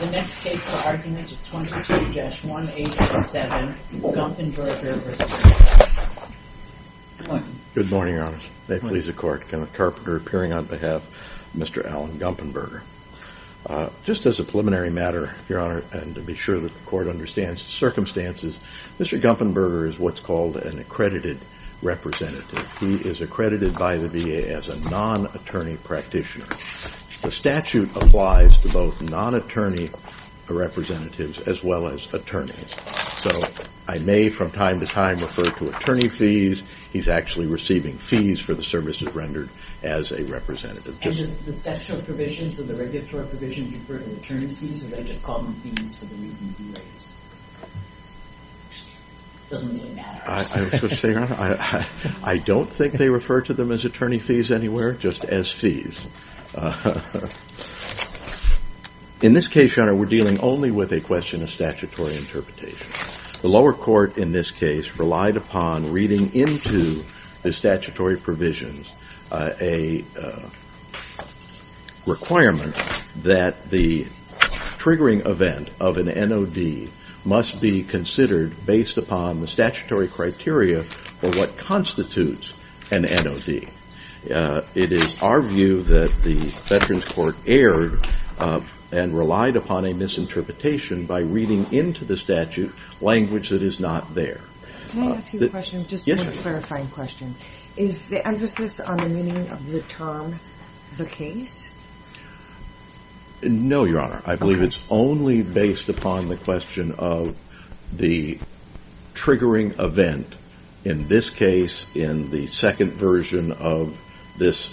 The next case for argument is 22-187, Gumpenberger v. McDonough. Good morning, Your Honor. May it please the Court, Kenneth Carpenter appearing on behalf of Mr. Alan Gumpenberger. Just as a preliminary matter, Your Honor, and to be sure that the Court understands the circumstances, Mr. Gumpenberger is what's called an accredited representative. He is accredited by the VA as a non-attorney practitioner. The statute applies to both non-attorney representatives as well as attorneys. So I may from time to time refer to attorney fees. He's actually receiving fees for the services rendered as a representative. And do the statutory provisions or the regulatory provisions refer to attorney fees, or do they just call them fees for the reasons you raised? It doesn't really matter. I don't think they refer to them as attorney fees anywhere, just as fees. In this case, Your Honor, we're dealing only with a question of statutory interpretation. The lower court in this case relied upon reading into the statutory provisions a requirement that the triggering event of an NOD must be considered based upon the statutory criteria for what constitutes an NOD. It is our view that the Veterans Court erred and relied upon a misinterpretation by reading into the statute language that is not there. Can I ask you a question, just a clarifying question? Is the emphasis on the meaning of the term the case? No, Your Honor. I believe it's only based upon the question of the triggering event, in this case in the second version of this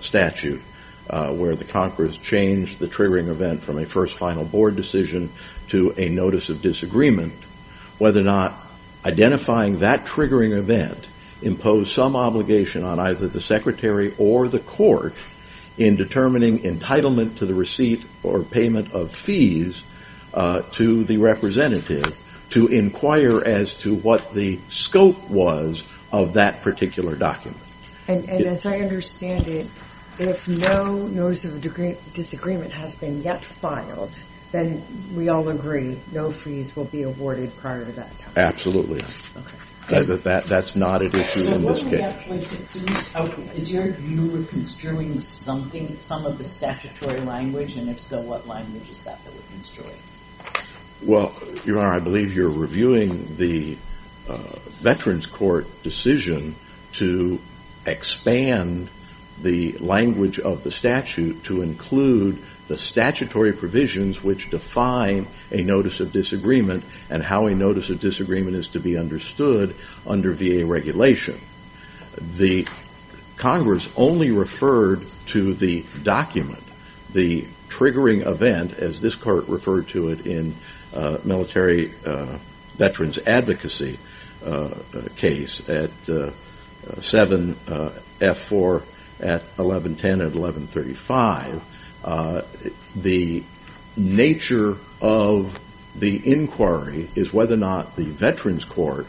statute, where the congress changed the triggering event from a first final board decision to a notice of disagreement, whether or not identifying that triggering event imposed some obligation on either the secretary or the court in determining entitlement to the receipt or payment of fees to the representative to inquire as to what the scope was of that particular document. As I understand it, if no notice of disagreement has been yet filed, then we all agree no fees will be awarded prior to that time. Absolutely. That's not an issue in this case. So what we have to look at is your view of construing something, some of the statutory language, and if so, what language is that that we're construing? Well, Your Honor, I believe you're reviewing the Veterans Court decision to expand the language of the statute to include the statutory provisions which define a notice of disagreement and how a notice of disagreement is to be understood under VA regulation. The Congress only referred to the document, the triggering event, as this court referred to it in Military Veterans Advocacy case at 7F4 at 1110 and 1135. The nature of the inquiry is whether or not the Veterans Court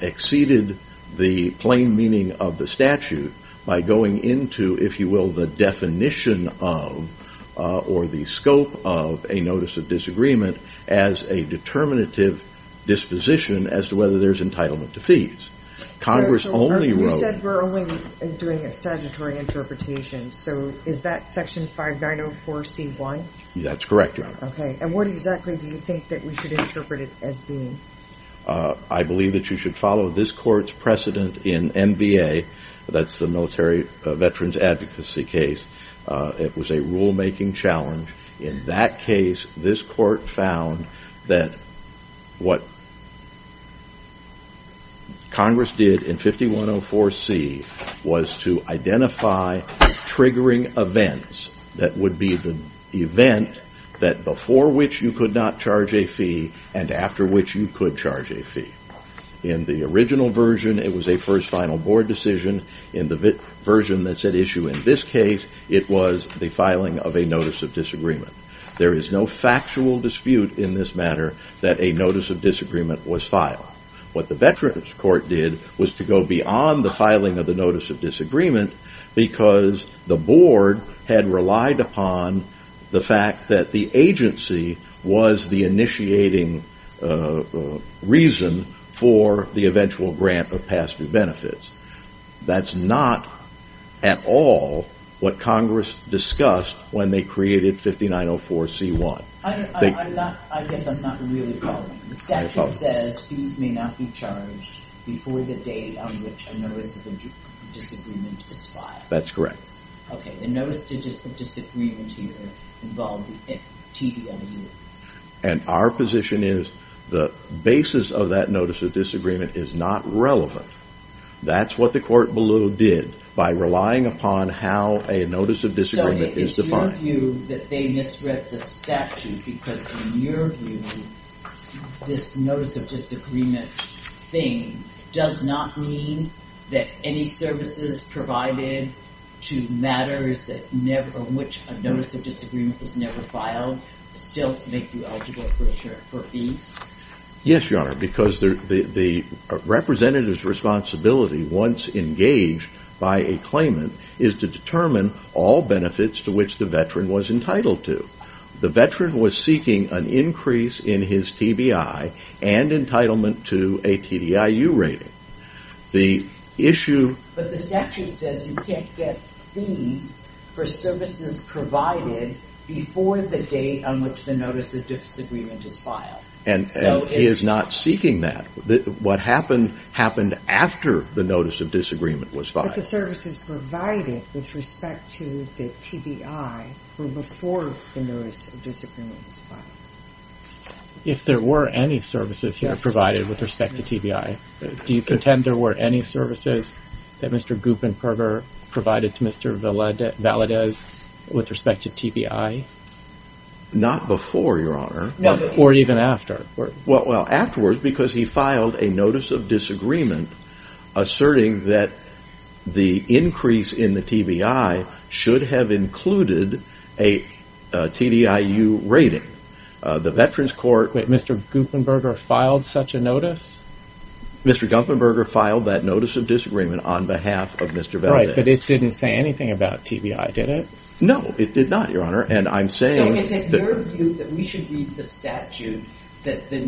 exceeded the plain meaning of the statute by going into, if you will, the definition of or the scope of a notice of disagreement as a determinative disposition as to whether there's entitlement to fees. You said we're only doing a statutory interpretation. So is that section 5904C1? That's correct, Your Honor. And what exactly do you think that we should interpret it as being? I believe that you should follow this court's precedent in MVA. That's the Military Veterans Advocacy case. It was a rulemaking challenge. In that case, this court found that what Congress did in 5104C was to identify triggering events that would be the event that before which you could not charge a fee and after which you could charge a fee. In the original version, it was a first final board decision. In the version that's at issue in this case, it was the filing of a notice of disagreement. There is no factual dispute in this matter that a notice of disagreement was filed. What the Veterans Court did was to go beyond the filing of the notice of disagreement because the board had relied upon the fact that the agency was the initiating reason for the eventual grant of past due benefits. That's not at all what Congress discussed when they created 5904C1. I guess I'm not really following. The statute says fees may not be charged before the date on which a notice of disagreement is filed. That's correct. The notice of disagreement here involved TDMU. Our position is the basis of that notice of disagreement is not relevant. That's what the court below did by relying upon how a notice of disagreement is defined. Is it your view that they misread the statute because in your view, this notice of disagreement thing does not mean that any services provided to matters on which a notice of disagreement was never filed still make you eligible for fees? Yes, Your Honor, because the representative's responsibility once engaged by a claimant is to determine all benefits to which the veteran was entitled to. The veteran was seeking an increase in his TBI and entitlement to a TDIU rating. But the statute says you can't get fees for services provided before the date on which the notice of disagreement is filed. He is not seeking that. What happened happened after the notice of disagreement was filed. But the services provided with respect to the TBI were before the notice of disagreement was filed. If there were any services here provided with respect to TBI, do you contend there were any services that Mr. Guppenberger provided to Mr. Valadez with respect to TBI? Not before, Your Honor. Or even after? Well, afterwards, because he filed a notice of disagreement asserting that the increase in the TBI should have included a TDIU rating. The Veterans Court... Wait, Mr. Guppenberger filed such a notice? Mr. Guppenberger filed that notice of disagreement on behalf of Mr. Valadez. Right, but it didn't say anything about TBI, did it? No, it did not, Your Honor, and I'm saying... So is it your view that we should read the statute that the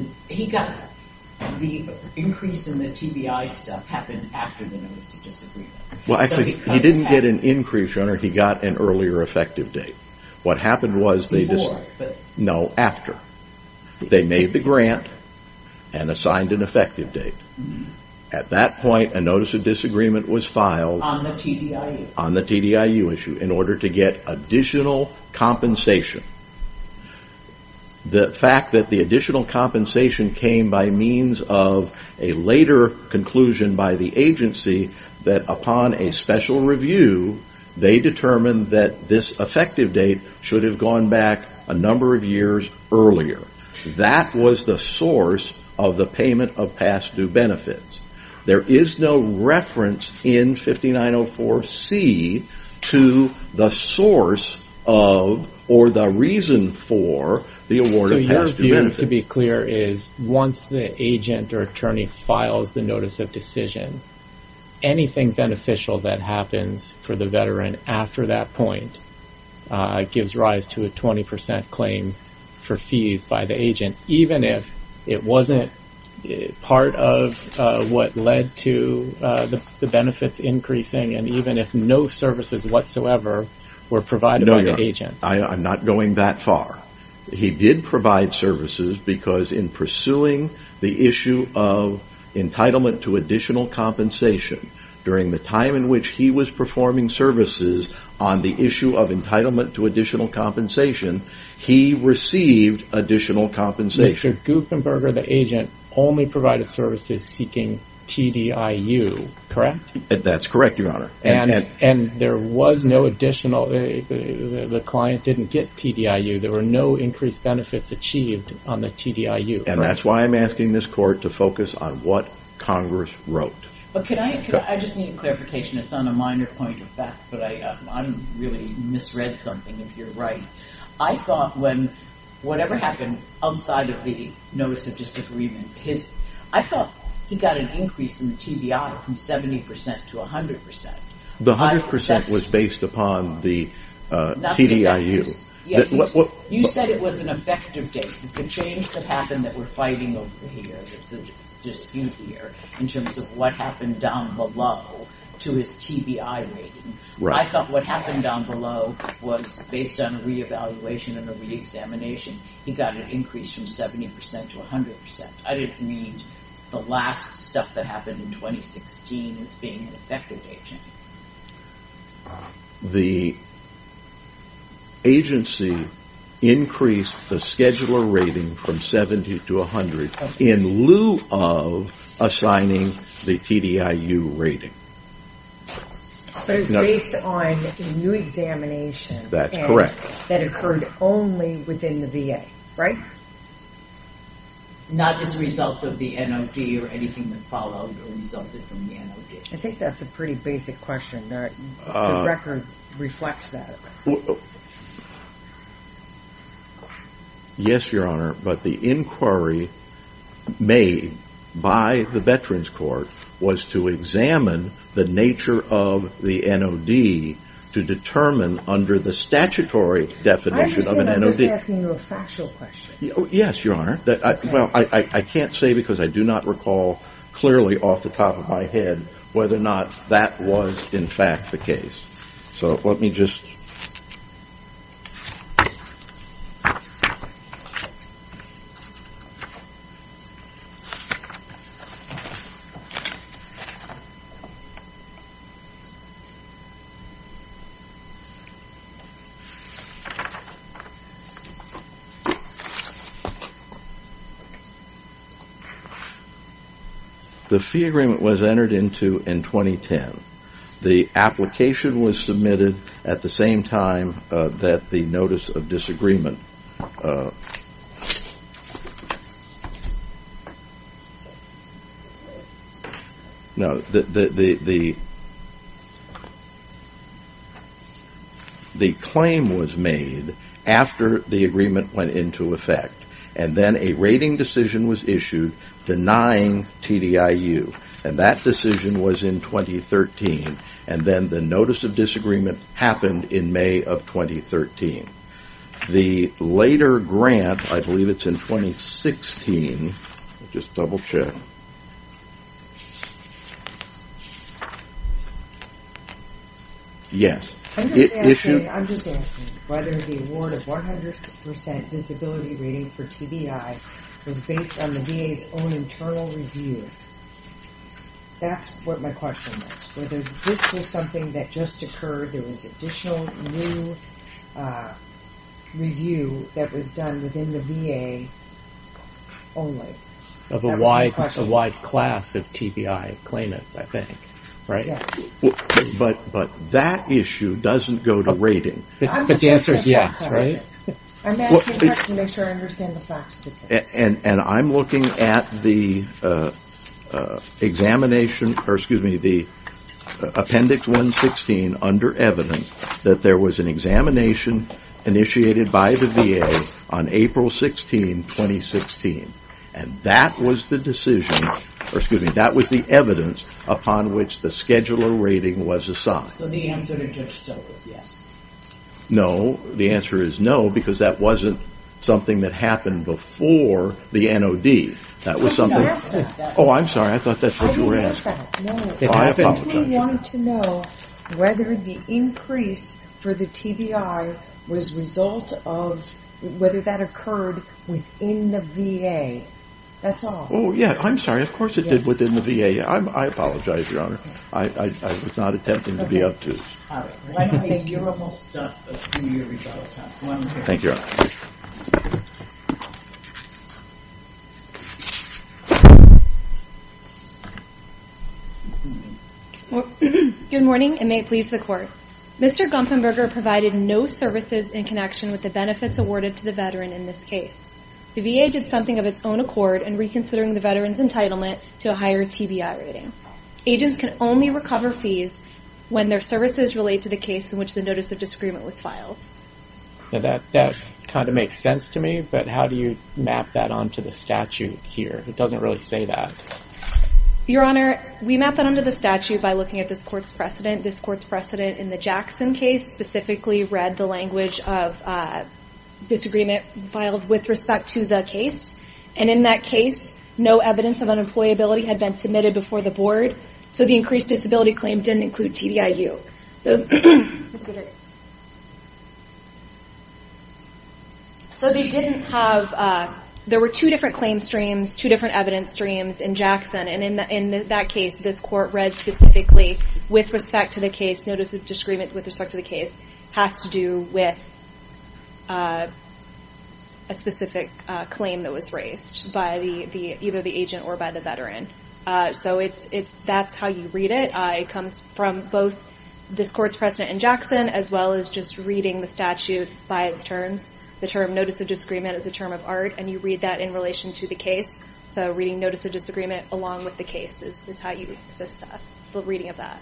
increase in the TBI stuff happened after the notice of disagreement? Well, he didn't get an increase, Your Honor, he got an earlier effective date. What happened was... Before? No, after. They made the grant and assigned an effective date. At that point, a notice of disagreement was filed... On the TDIU? In order to get additional compensation. The fact that the additional compensation came by means of a later conclusion by the agency that upon a special review, they determined that this effective date should have gone back a number of years earlier. That was the source of the payment of past due benefits. There is no reference in 5904C to the source of or the reason for the award of past due benefits. So your view, to be clear, is once the agent or attorney files the notice of decision, anything beneficial that happens for the veteran after that point gives rise to a 20% claim for fees by the agent, even if it wasn't part of what led to the benefits increasing, and even if no services whatsoever were provided by the agent. No, Your Honor, I'm not going that far. He did provide services because in pursuing the issue of entitlement to additional compensation, during the time in which he was performing services on the issue of entitlement to additional compensation, he received additional compensation. Mr. Gukenberger, the agent only provided services seeking TDIU, correct? That's correct, Your Honor. And there was no additional, the client didn't get TDIU. There were no increased benefits achieved on the TDIU. And that's why I'm asking this court to focus on what Congress wrote. I just need clarification. It's on a minor point of fact, but I really misread something, if you're right. I thought when whatever happened outside of the notice of disagreement, I thought he got an increase in the TDI from 70% to 100%. The 100% was based upon the TDIU. You said it was an effective date. The change that happened that we're fighting over here, there's a dispute here in terms of what happened down below to his TBI rating. I thought what happened down below was based on re-evaluation and the re-examination. He got an increase from 70% to 100%. I didn't read the last stuff that happened in 2016 as being an effective date change. The agency increased the scheduler rating from 70% to 100% in lieu of assigning the TDIU rating. But it's based on a new examination. That's correct. That occurred only within the VA, right? Not as a result of the NOD or anything that followed or resulted from the NOD. I think that's a pretty basic question. The record reflects that. Yes, Your Honor. But the inquiry made by the Veterans Court was to examine the nature of the NOD to determine under the statutory definition of an NOD. I understand. I'm just asking you a factual question. Yes, Your Honor. I can't say because I do not recall clearly off the top of my head whether or not that was in fact the case. Let me just... The fee agreement was entered into in 2010. The application was submitted at the same time that the notice of disagreement... The claim was made after the agreement went into effect and then a rating decision was issued denying TDIU. That decision was in 2013. Then the notice of disagreement happened in May of 2013. The later grant, I believe it's in 2016. Let me just double check. Yes. I'm just asking whether the award of 100% disability rating for TBI was based on the VA's own internal review. That's what my question was. Whether this was something that just occurred, there was additional new review that was done within the VA only. Of a wide class of TBI claimants, I think, right? Yes. But that issue doesn't go to rating. But the answer is yes, right? I'm looking at the appendix 116 under evidence that there was an examination initiated by the VA on April 16, 2016. That was the evidence upon which the scheduler rating was assigned. So the answer to Judge So is yes. No. The answer is no because that wasn't something that happened before the NOD. I didn't ask that. Oh, I'm sorry. I thought that's what you were asking. I didn't ask that. I simply wanted to know whether the increase for the TBI was a result of whether that occurred within the VA. That's all. Oh, yeah. I'm sorry. Of course it did within the VA. I apologize, Your Honor. I was not attempting to be obtuse. All right. You're almost done. Let's do your rebuttal time. Thank you, Your Honor. Good morning and may it please the Court. Mr. Gumpenberger provided no services in connection with the benefits awarded to the veteran in this case. The VA did something of its own accord in reconsidering the veteran's entitlement to a higher TBI rating. Agents can only recover fees when their services relate to the case in which the notice of disagreement was filed. That kind of makes sense to me, but how do you map that onto the statute here? It doesn't really say that. Your Honor, we map that onto the statute by looking at this Court's precedent. The Jackson case specifically read the language of disagreement filed with respect to the case, and in that case no evidence of unemployability had been submitted before the Board, so the increased disability claim didn't include TBIU. There were two different claim streams, two different evidence streams in Jackson, and in that case this Court read specifically that notice of disagreement with respect to the case has to do with a specific claim that was raised by either the agent or by the veteran. So that's how you read it. It comes from both this Court's precedent in Jackson as well as just reading the statute by its terms. The term notice of disagreement is a term of art, and you read that in relation to the case, so reading notice of disagreement along with the case is how you assist the reading of that.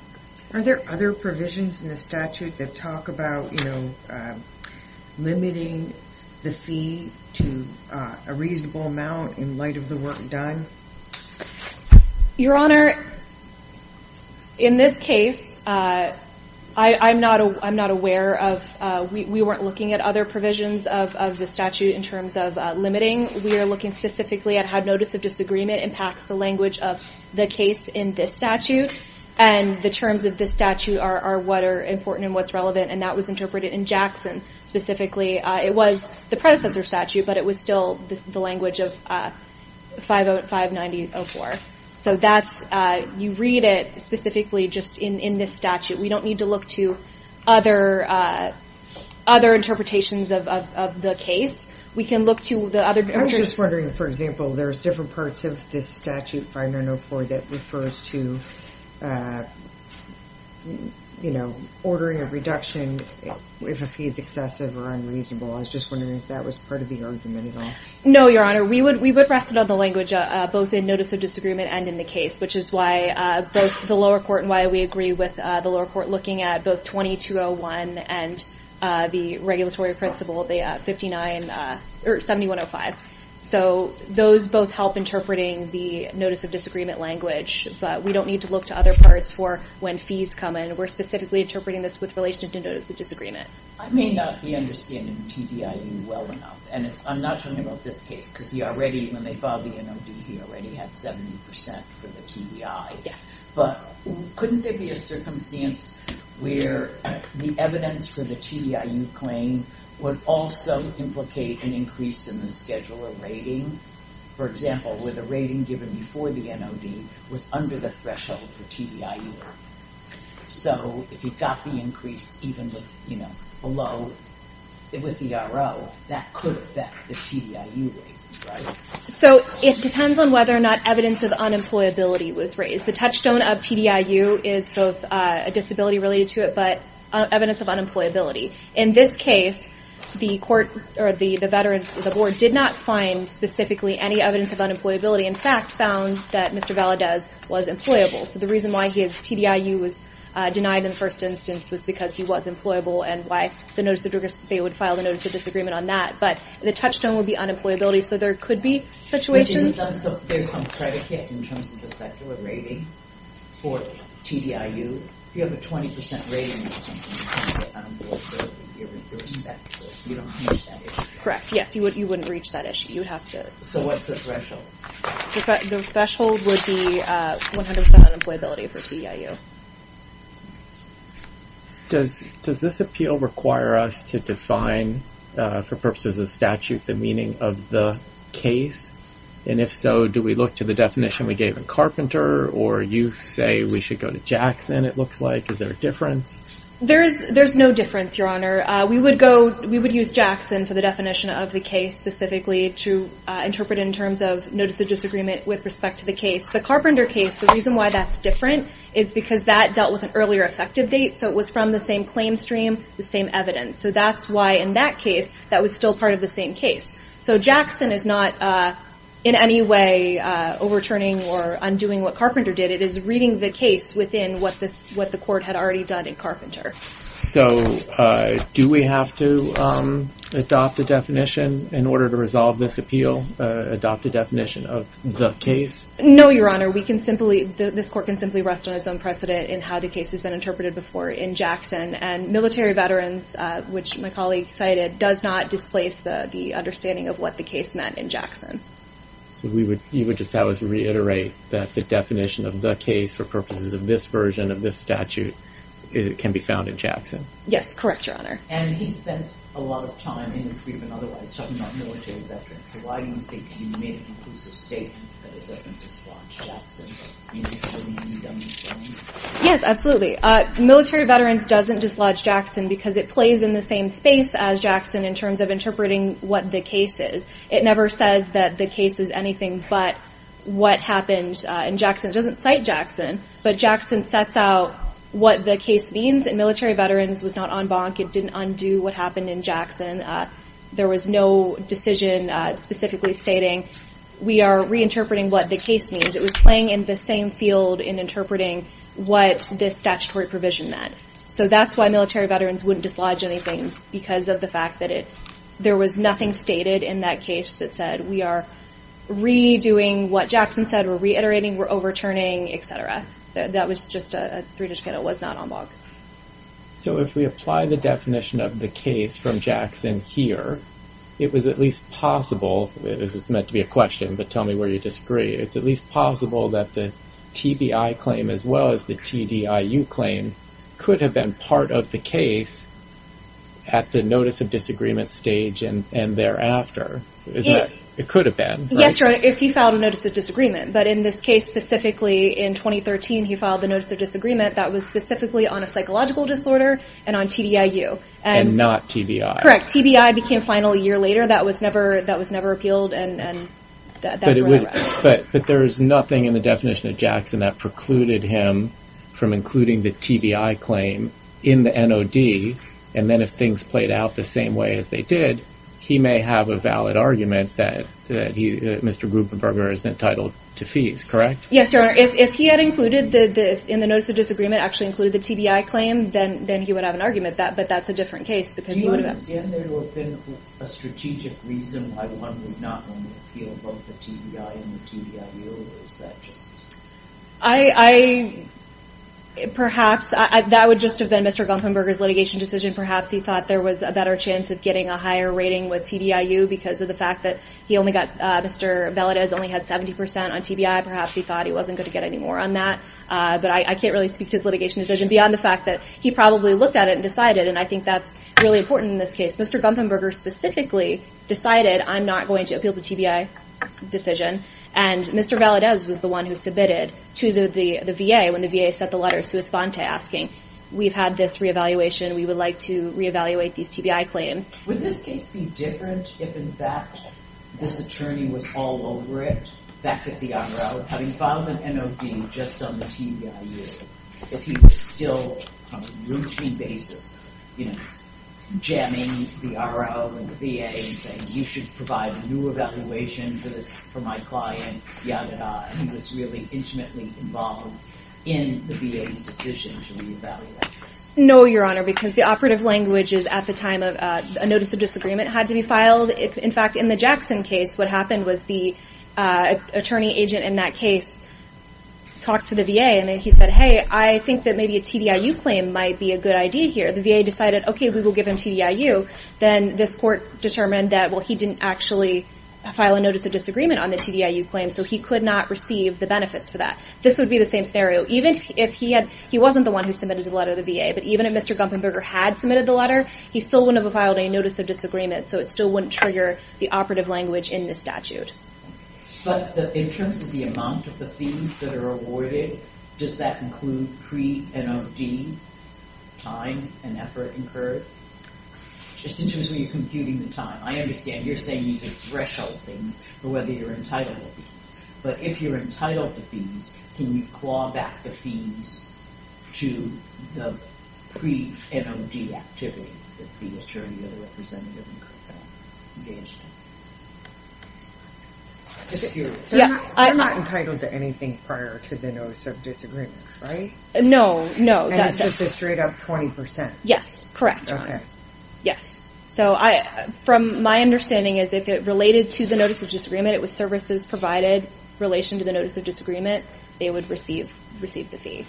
Are there other provisions in the statute that talk about limiting the fee to a reasonable amount in light of the work done? Your Honor, in this case, I'm not aware of... We weren't looking at other provisions of the statute in terms of limiting. We are looking specifically at how notice of disagreement impacts the language of the case in this statute, and the terms of this statute are what are important and what's relevant, and that was interpreted in Jackson specifically. It was the predecessor statute, but it was still the language of 590.04. So you read it specifically just in this statute. We don't need to look to other interpretations of the case. We can look to the other... I'm just wondering, for example, there's different parts of this statute, 590.04, that refers to ordering a reduction if a fee is excessive or unreasonable. I was just wondering if that was part of the argument at all. No, Your Honor. We would rest it on the language both in notice of disagreement and in the case, which is why both the lower court and why we agree with the lower court looking at both 2201 and the regulatory principle, 7105. So those both help interpreting the notice of disagreement language, but we don't need to look to other parts for when fees come in. We're specifically interpreting this with relation to notice of disagreement. I may not be understanding TDIU well enough, and I'm not talking about this case because he already, when they filed the NOD, he already had 70% for the TDI. Yes. But couldn't there be a circumstance where the evidence for the TDIU claim would also implicate an increase in the scheduler rating? For example, where the rating given before the NOD was under the threshold for TDIU. So if you got the increase even below with the RO, that could affect the TDIU rating, right? So it depends on whether or not evidence of unemployability was raised. The touchstone of TDIU is both a disability related to it, but evidence of unemployability. In this case, the court or the veterans, the board, did not find specifically any evidence of unemployability. In fact, found that Mr. Valadez was employable. So the reason why his TDIU was denied in the first instance was because he was employable, and why they would file the notice of disagreement on that. But the touchstone would be unemployability. So there could be situations. There's some predicate in terms of the scheduler rating for TDIU. You have a 20% rating or something. Correct. Yes, you wouldn't reach that issue. So what's the threshold? The threshold would be 100% unemployability for TDIU. Does this appeal require us to define, for purposes of statute, the meaning of the case? And if so, do we look to the definition we gave in Carpenter, or you say we should go to Jackson, it looks like? Is there a difference? There's no difference, Your Honor. We would use Jackson for the definition of the case, specifically to interpret in terms of notice of disagreement with respect to the case. The Carpenter case, the reason why that's different is because that dealt with an earlier effective date, so it was from the same claim stream, the same evidence. So that's why, in that case, that was still part of the same case. So Jackson is not in any way overturning or undoing what Carpenter did. It is reading the case within what the court had already done in Carpenter. So do we have to adopt a definition in order to resolve this appeal, adopt a definition of the case? No, Your Honor. This court can simply rest on its own precedent in how the case has been interpreted before in Jackson. And military veterans, which my colleague cited, does not displace the understanding of what the case meant in Jackson. So you would just have us reiterate that the definition of the case for purposes of this version of this statute can be found in Jackson? Yes, correct, Your Honor. And he spent a lot of time in his freedom and otherwise talking about military veterans. So why do you think he made an inclusive statement that it doesn't dislodge Jackson? Yes, absolutely. Military veterans doesn't dislodge Jackson because it plays in the same space as Jackson in terms of interpreting what the case is. It never says that the case is anything but what happened in Jackson. It doesn't cite Jackson, but Jackson sets out what the case means, and military veterans was not en banc. It didn't undo what happened in Jackson. There was no decision specifically stating, we are reinterpreting what the case means. It was playing in the same field in interpreting what this statutory provision meant. So that's why military veterans wouldn't dislodge anything because of the fact that there was nothing stated in that case that said we are redoing what Jackson said, we're reiterating, we're overturning, et cetera. That was just a three-digit code. It was not en banc. So if we apply the definition of the case from Jackson here, it was at least possible, this is meant to be a question, but tell me where you disagree, it's at least possible that the TBI claim as well as the TDIU claim could have been part of the case at the notice of disagreement stage and thereafter. It could have been. Yes, if he filed a notice of disagreement, but in this case specifically in 2013, he filed the notice of disagreement that was specifically on a psychological disorder and on TDIU. And not TBI. Correct. TBI became final a year later. That was never appealed, and that's where I'm at. But there is nothing in the definition of Jackson that precluded him from including the TBI claim in the NOD, and then if things played out the same way as they did, he may have a valid argument that Mr. Gruberberger is entitled to fees, correct? Yes, Your Honor. If he had included in the notice of disagreement, actually included the TBI claim, then he would have an argument, but that's a different case because he would have... Do you understand there to have been a strategic reason why one would not want to appeal both the TBI and the TDIU, or is that just... I... Perhaps that would just have been Mr. Gruberberger's litigation decision. Perhaps he thought there was a better chance of getting a higher rating with TDIU because of the fact that he only got... Mr. Valadez only had 70% on TBI. Perhaps he thought he wasn't going to get any more on that, but I can't really speak to his litigation decision beyond the fact that he probably looked at it and decided, and I think that's really important in this case. Mr. Gruberberger specifically decided I'm not going to appeal the TBI decision, and Mr. Valadez was the one who submitted to the VA when the VA sent the letter to Esfante asking, we've had this re-evaluation, we would like to re-evaluate these TBI claims. Would this case be different if, in fact, this attorney was all over it, back at the R.O., having filed an NOB just on the TDIU, if he was still on a routine basis, you know, jamming the R.O. and the VA and saying, you should provide new evaluation for my client, Yamada, and he was really intimately involved in the VA's decision to re-evaluate. No, Your Honor, because the operative language is at the time a notice of disagreement had to be filed. In fact, in the Jackson case, what happened was the attorney agent in that case talked to the VA, and then he said, hey, I think that maybe a TDIU claim might be a good idea here. The VA decided, okay, we will give him TDIU. Then this court determined that, well, he didn't actually file a notice of disagreement on the TDIU claim, so he could not receive the benefits for that. This would be the same scenario. Even if he wasn't the one who submitted the letter to the VA, but even if Mr. Gumpenberger had submitted the letter, he still wouldn't have filed a notice of disagreement, so it still wouldn't trigger the operative language in this statute. But in terms of the amount of the fees that are awarded, does that include pre-NOD time and effort incurred? Just in terms of when you're computing the time. I understand you're saying these are threshold things for whether you're entitled to fees. But if you're entitled to fees, can you claw back the fees to the pre-NOD activity that the attorney or the representative engaged in? Just curious. They're not entitled to anything prior to the notice of disagreement, right? No, no. And it's just a straight-up 20%? Yes, correct. Yes. So from my understanding is if it related to the notice of disagreement, it was services provided in relation to the notice of disagreement, they would receive the fee.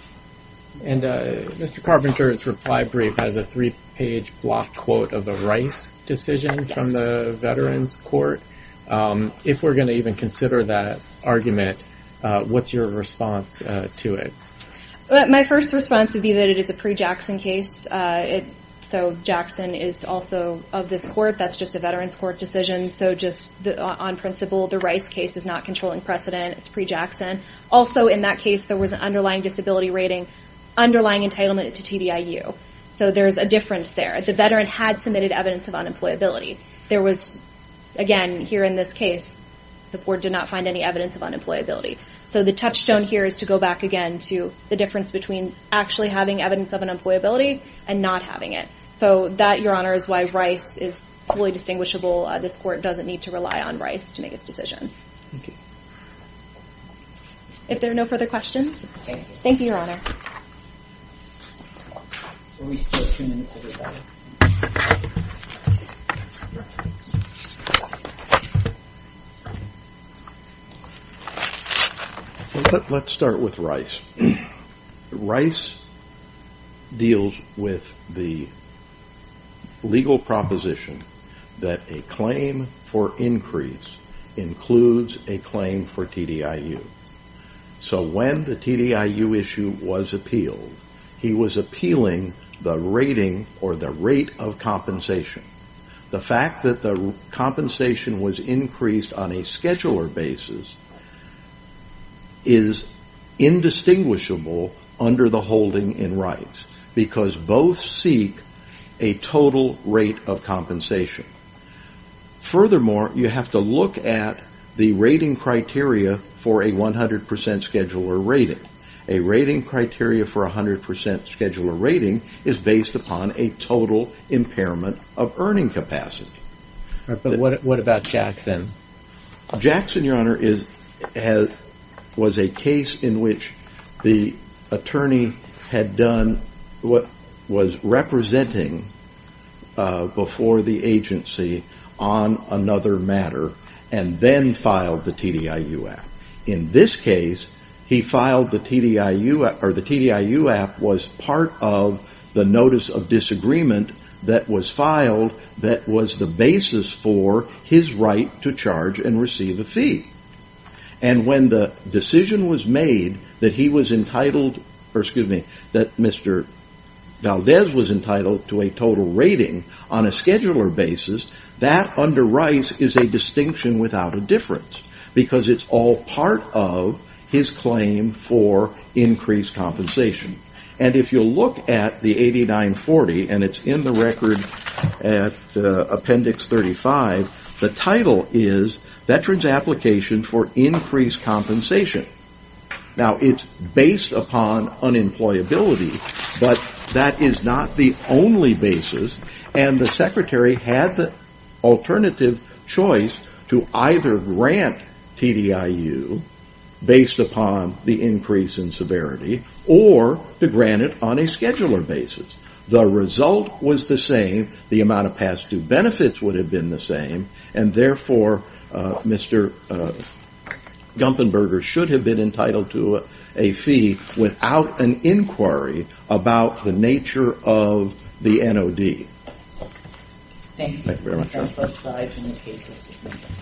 And Mr. Carpenter's reply brief has a three-page block quote of a Rice decision from the Veterans Court. If we're going to even consider that argument, what's your response to it? My first response would be that it is a pre-Jackson case so Jackson is also of this court. That's just a Veterans Court decision. So just on principle, the Rice case is not controlling precedent. It's pre-Jackson. Also, in that case, there was an underlying disability rating, underlying entitlement to TDIU. So there's a difference there. The veteran had submitted evidence of unemployability. There was, again, here in this case, the board did not find any evidence of unemployability. So the touchstone here is to go back again to the difference between actually having evidence of unemployability and not having it. So that, Your Honor, is why Rice is fully distinguishable. This court doesn't need to rely on Rice to make its decision. Thank you. If there are no further questions, thank you, Your Honor. We still have two minutes, everybody. Let's start with Rice. Rice deals with the legal proposition that a claim for increase includes a claim for TDIU. So when the TDIU issue was appealed, he was appealing the rating or the rate of compensation. The fact that the compensation was increased on a scheduler basis is indistinguishable under the holding in Rice because both seek a total rate of compensation. Furthermore, you have to look at the rating criteria for a 100% scheduler rating. A rating criteria for a 100% scheduler rating is based upon a total impairment of earning capacity. But what about Jackson? Jackson, Your Honor, was a case in which the attorney had done what was representing before the agency on another matter and then filed the TDIU Act. In this case, the TDIU Act was part of the notice of disagreement that was filed that was the basis for his right to charge and receive a fee. And when the decision was made that he was entitled that Mr. Valdez was entitled to a total rating on a scheduler basis, that under Rice is a distinction without a difference because it's all part of his claim for increased compensation. And if you look at the 8940, and it's in the record at Appendix 35, the title is Veterans Application for Increased Compensation. Now, it's based upon unemployability, but that is not the only basis. And the secretary had the alternative choice to either grant TDIU based upon the increase in severity or to grant it on a scheduler basis. The result was the same. The amount of past due benefits would have been the same. And therefore, Mr. Gumpenberger should have been entitled to a fee without an inquiry about the nature of the NOD. Thank you. Thank you very much.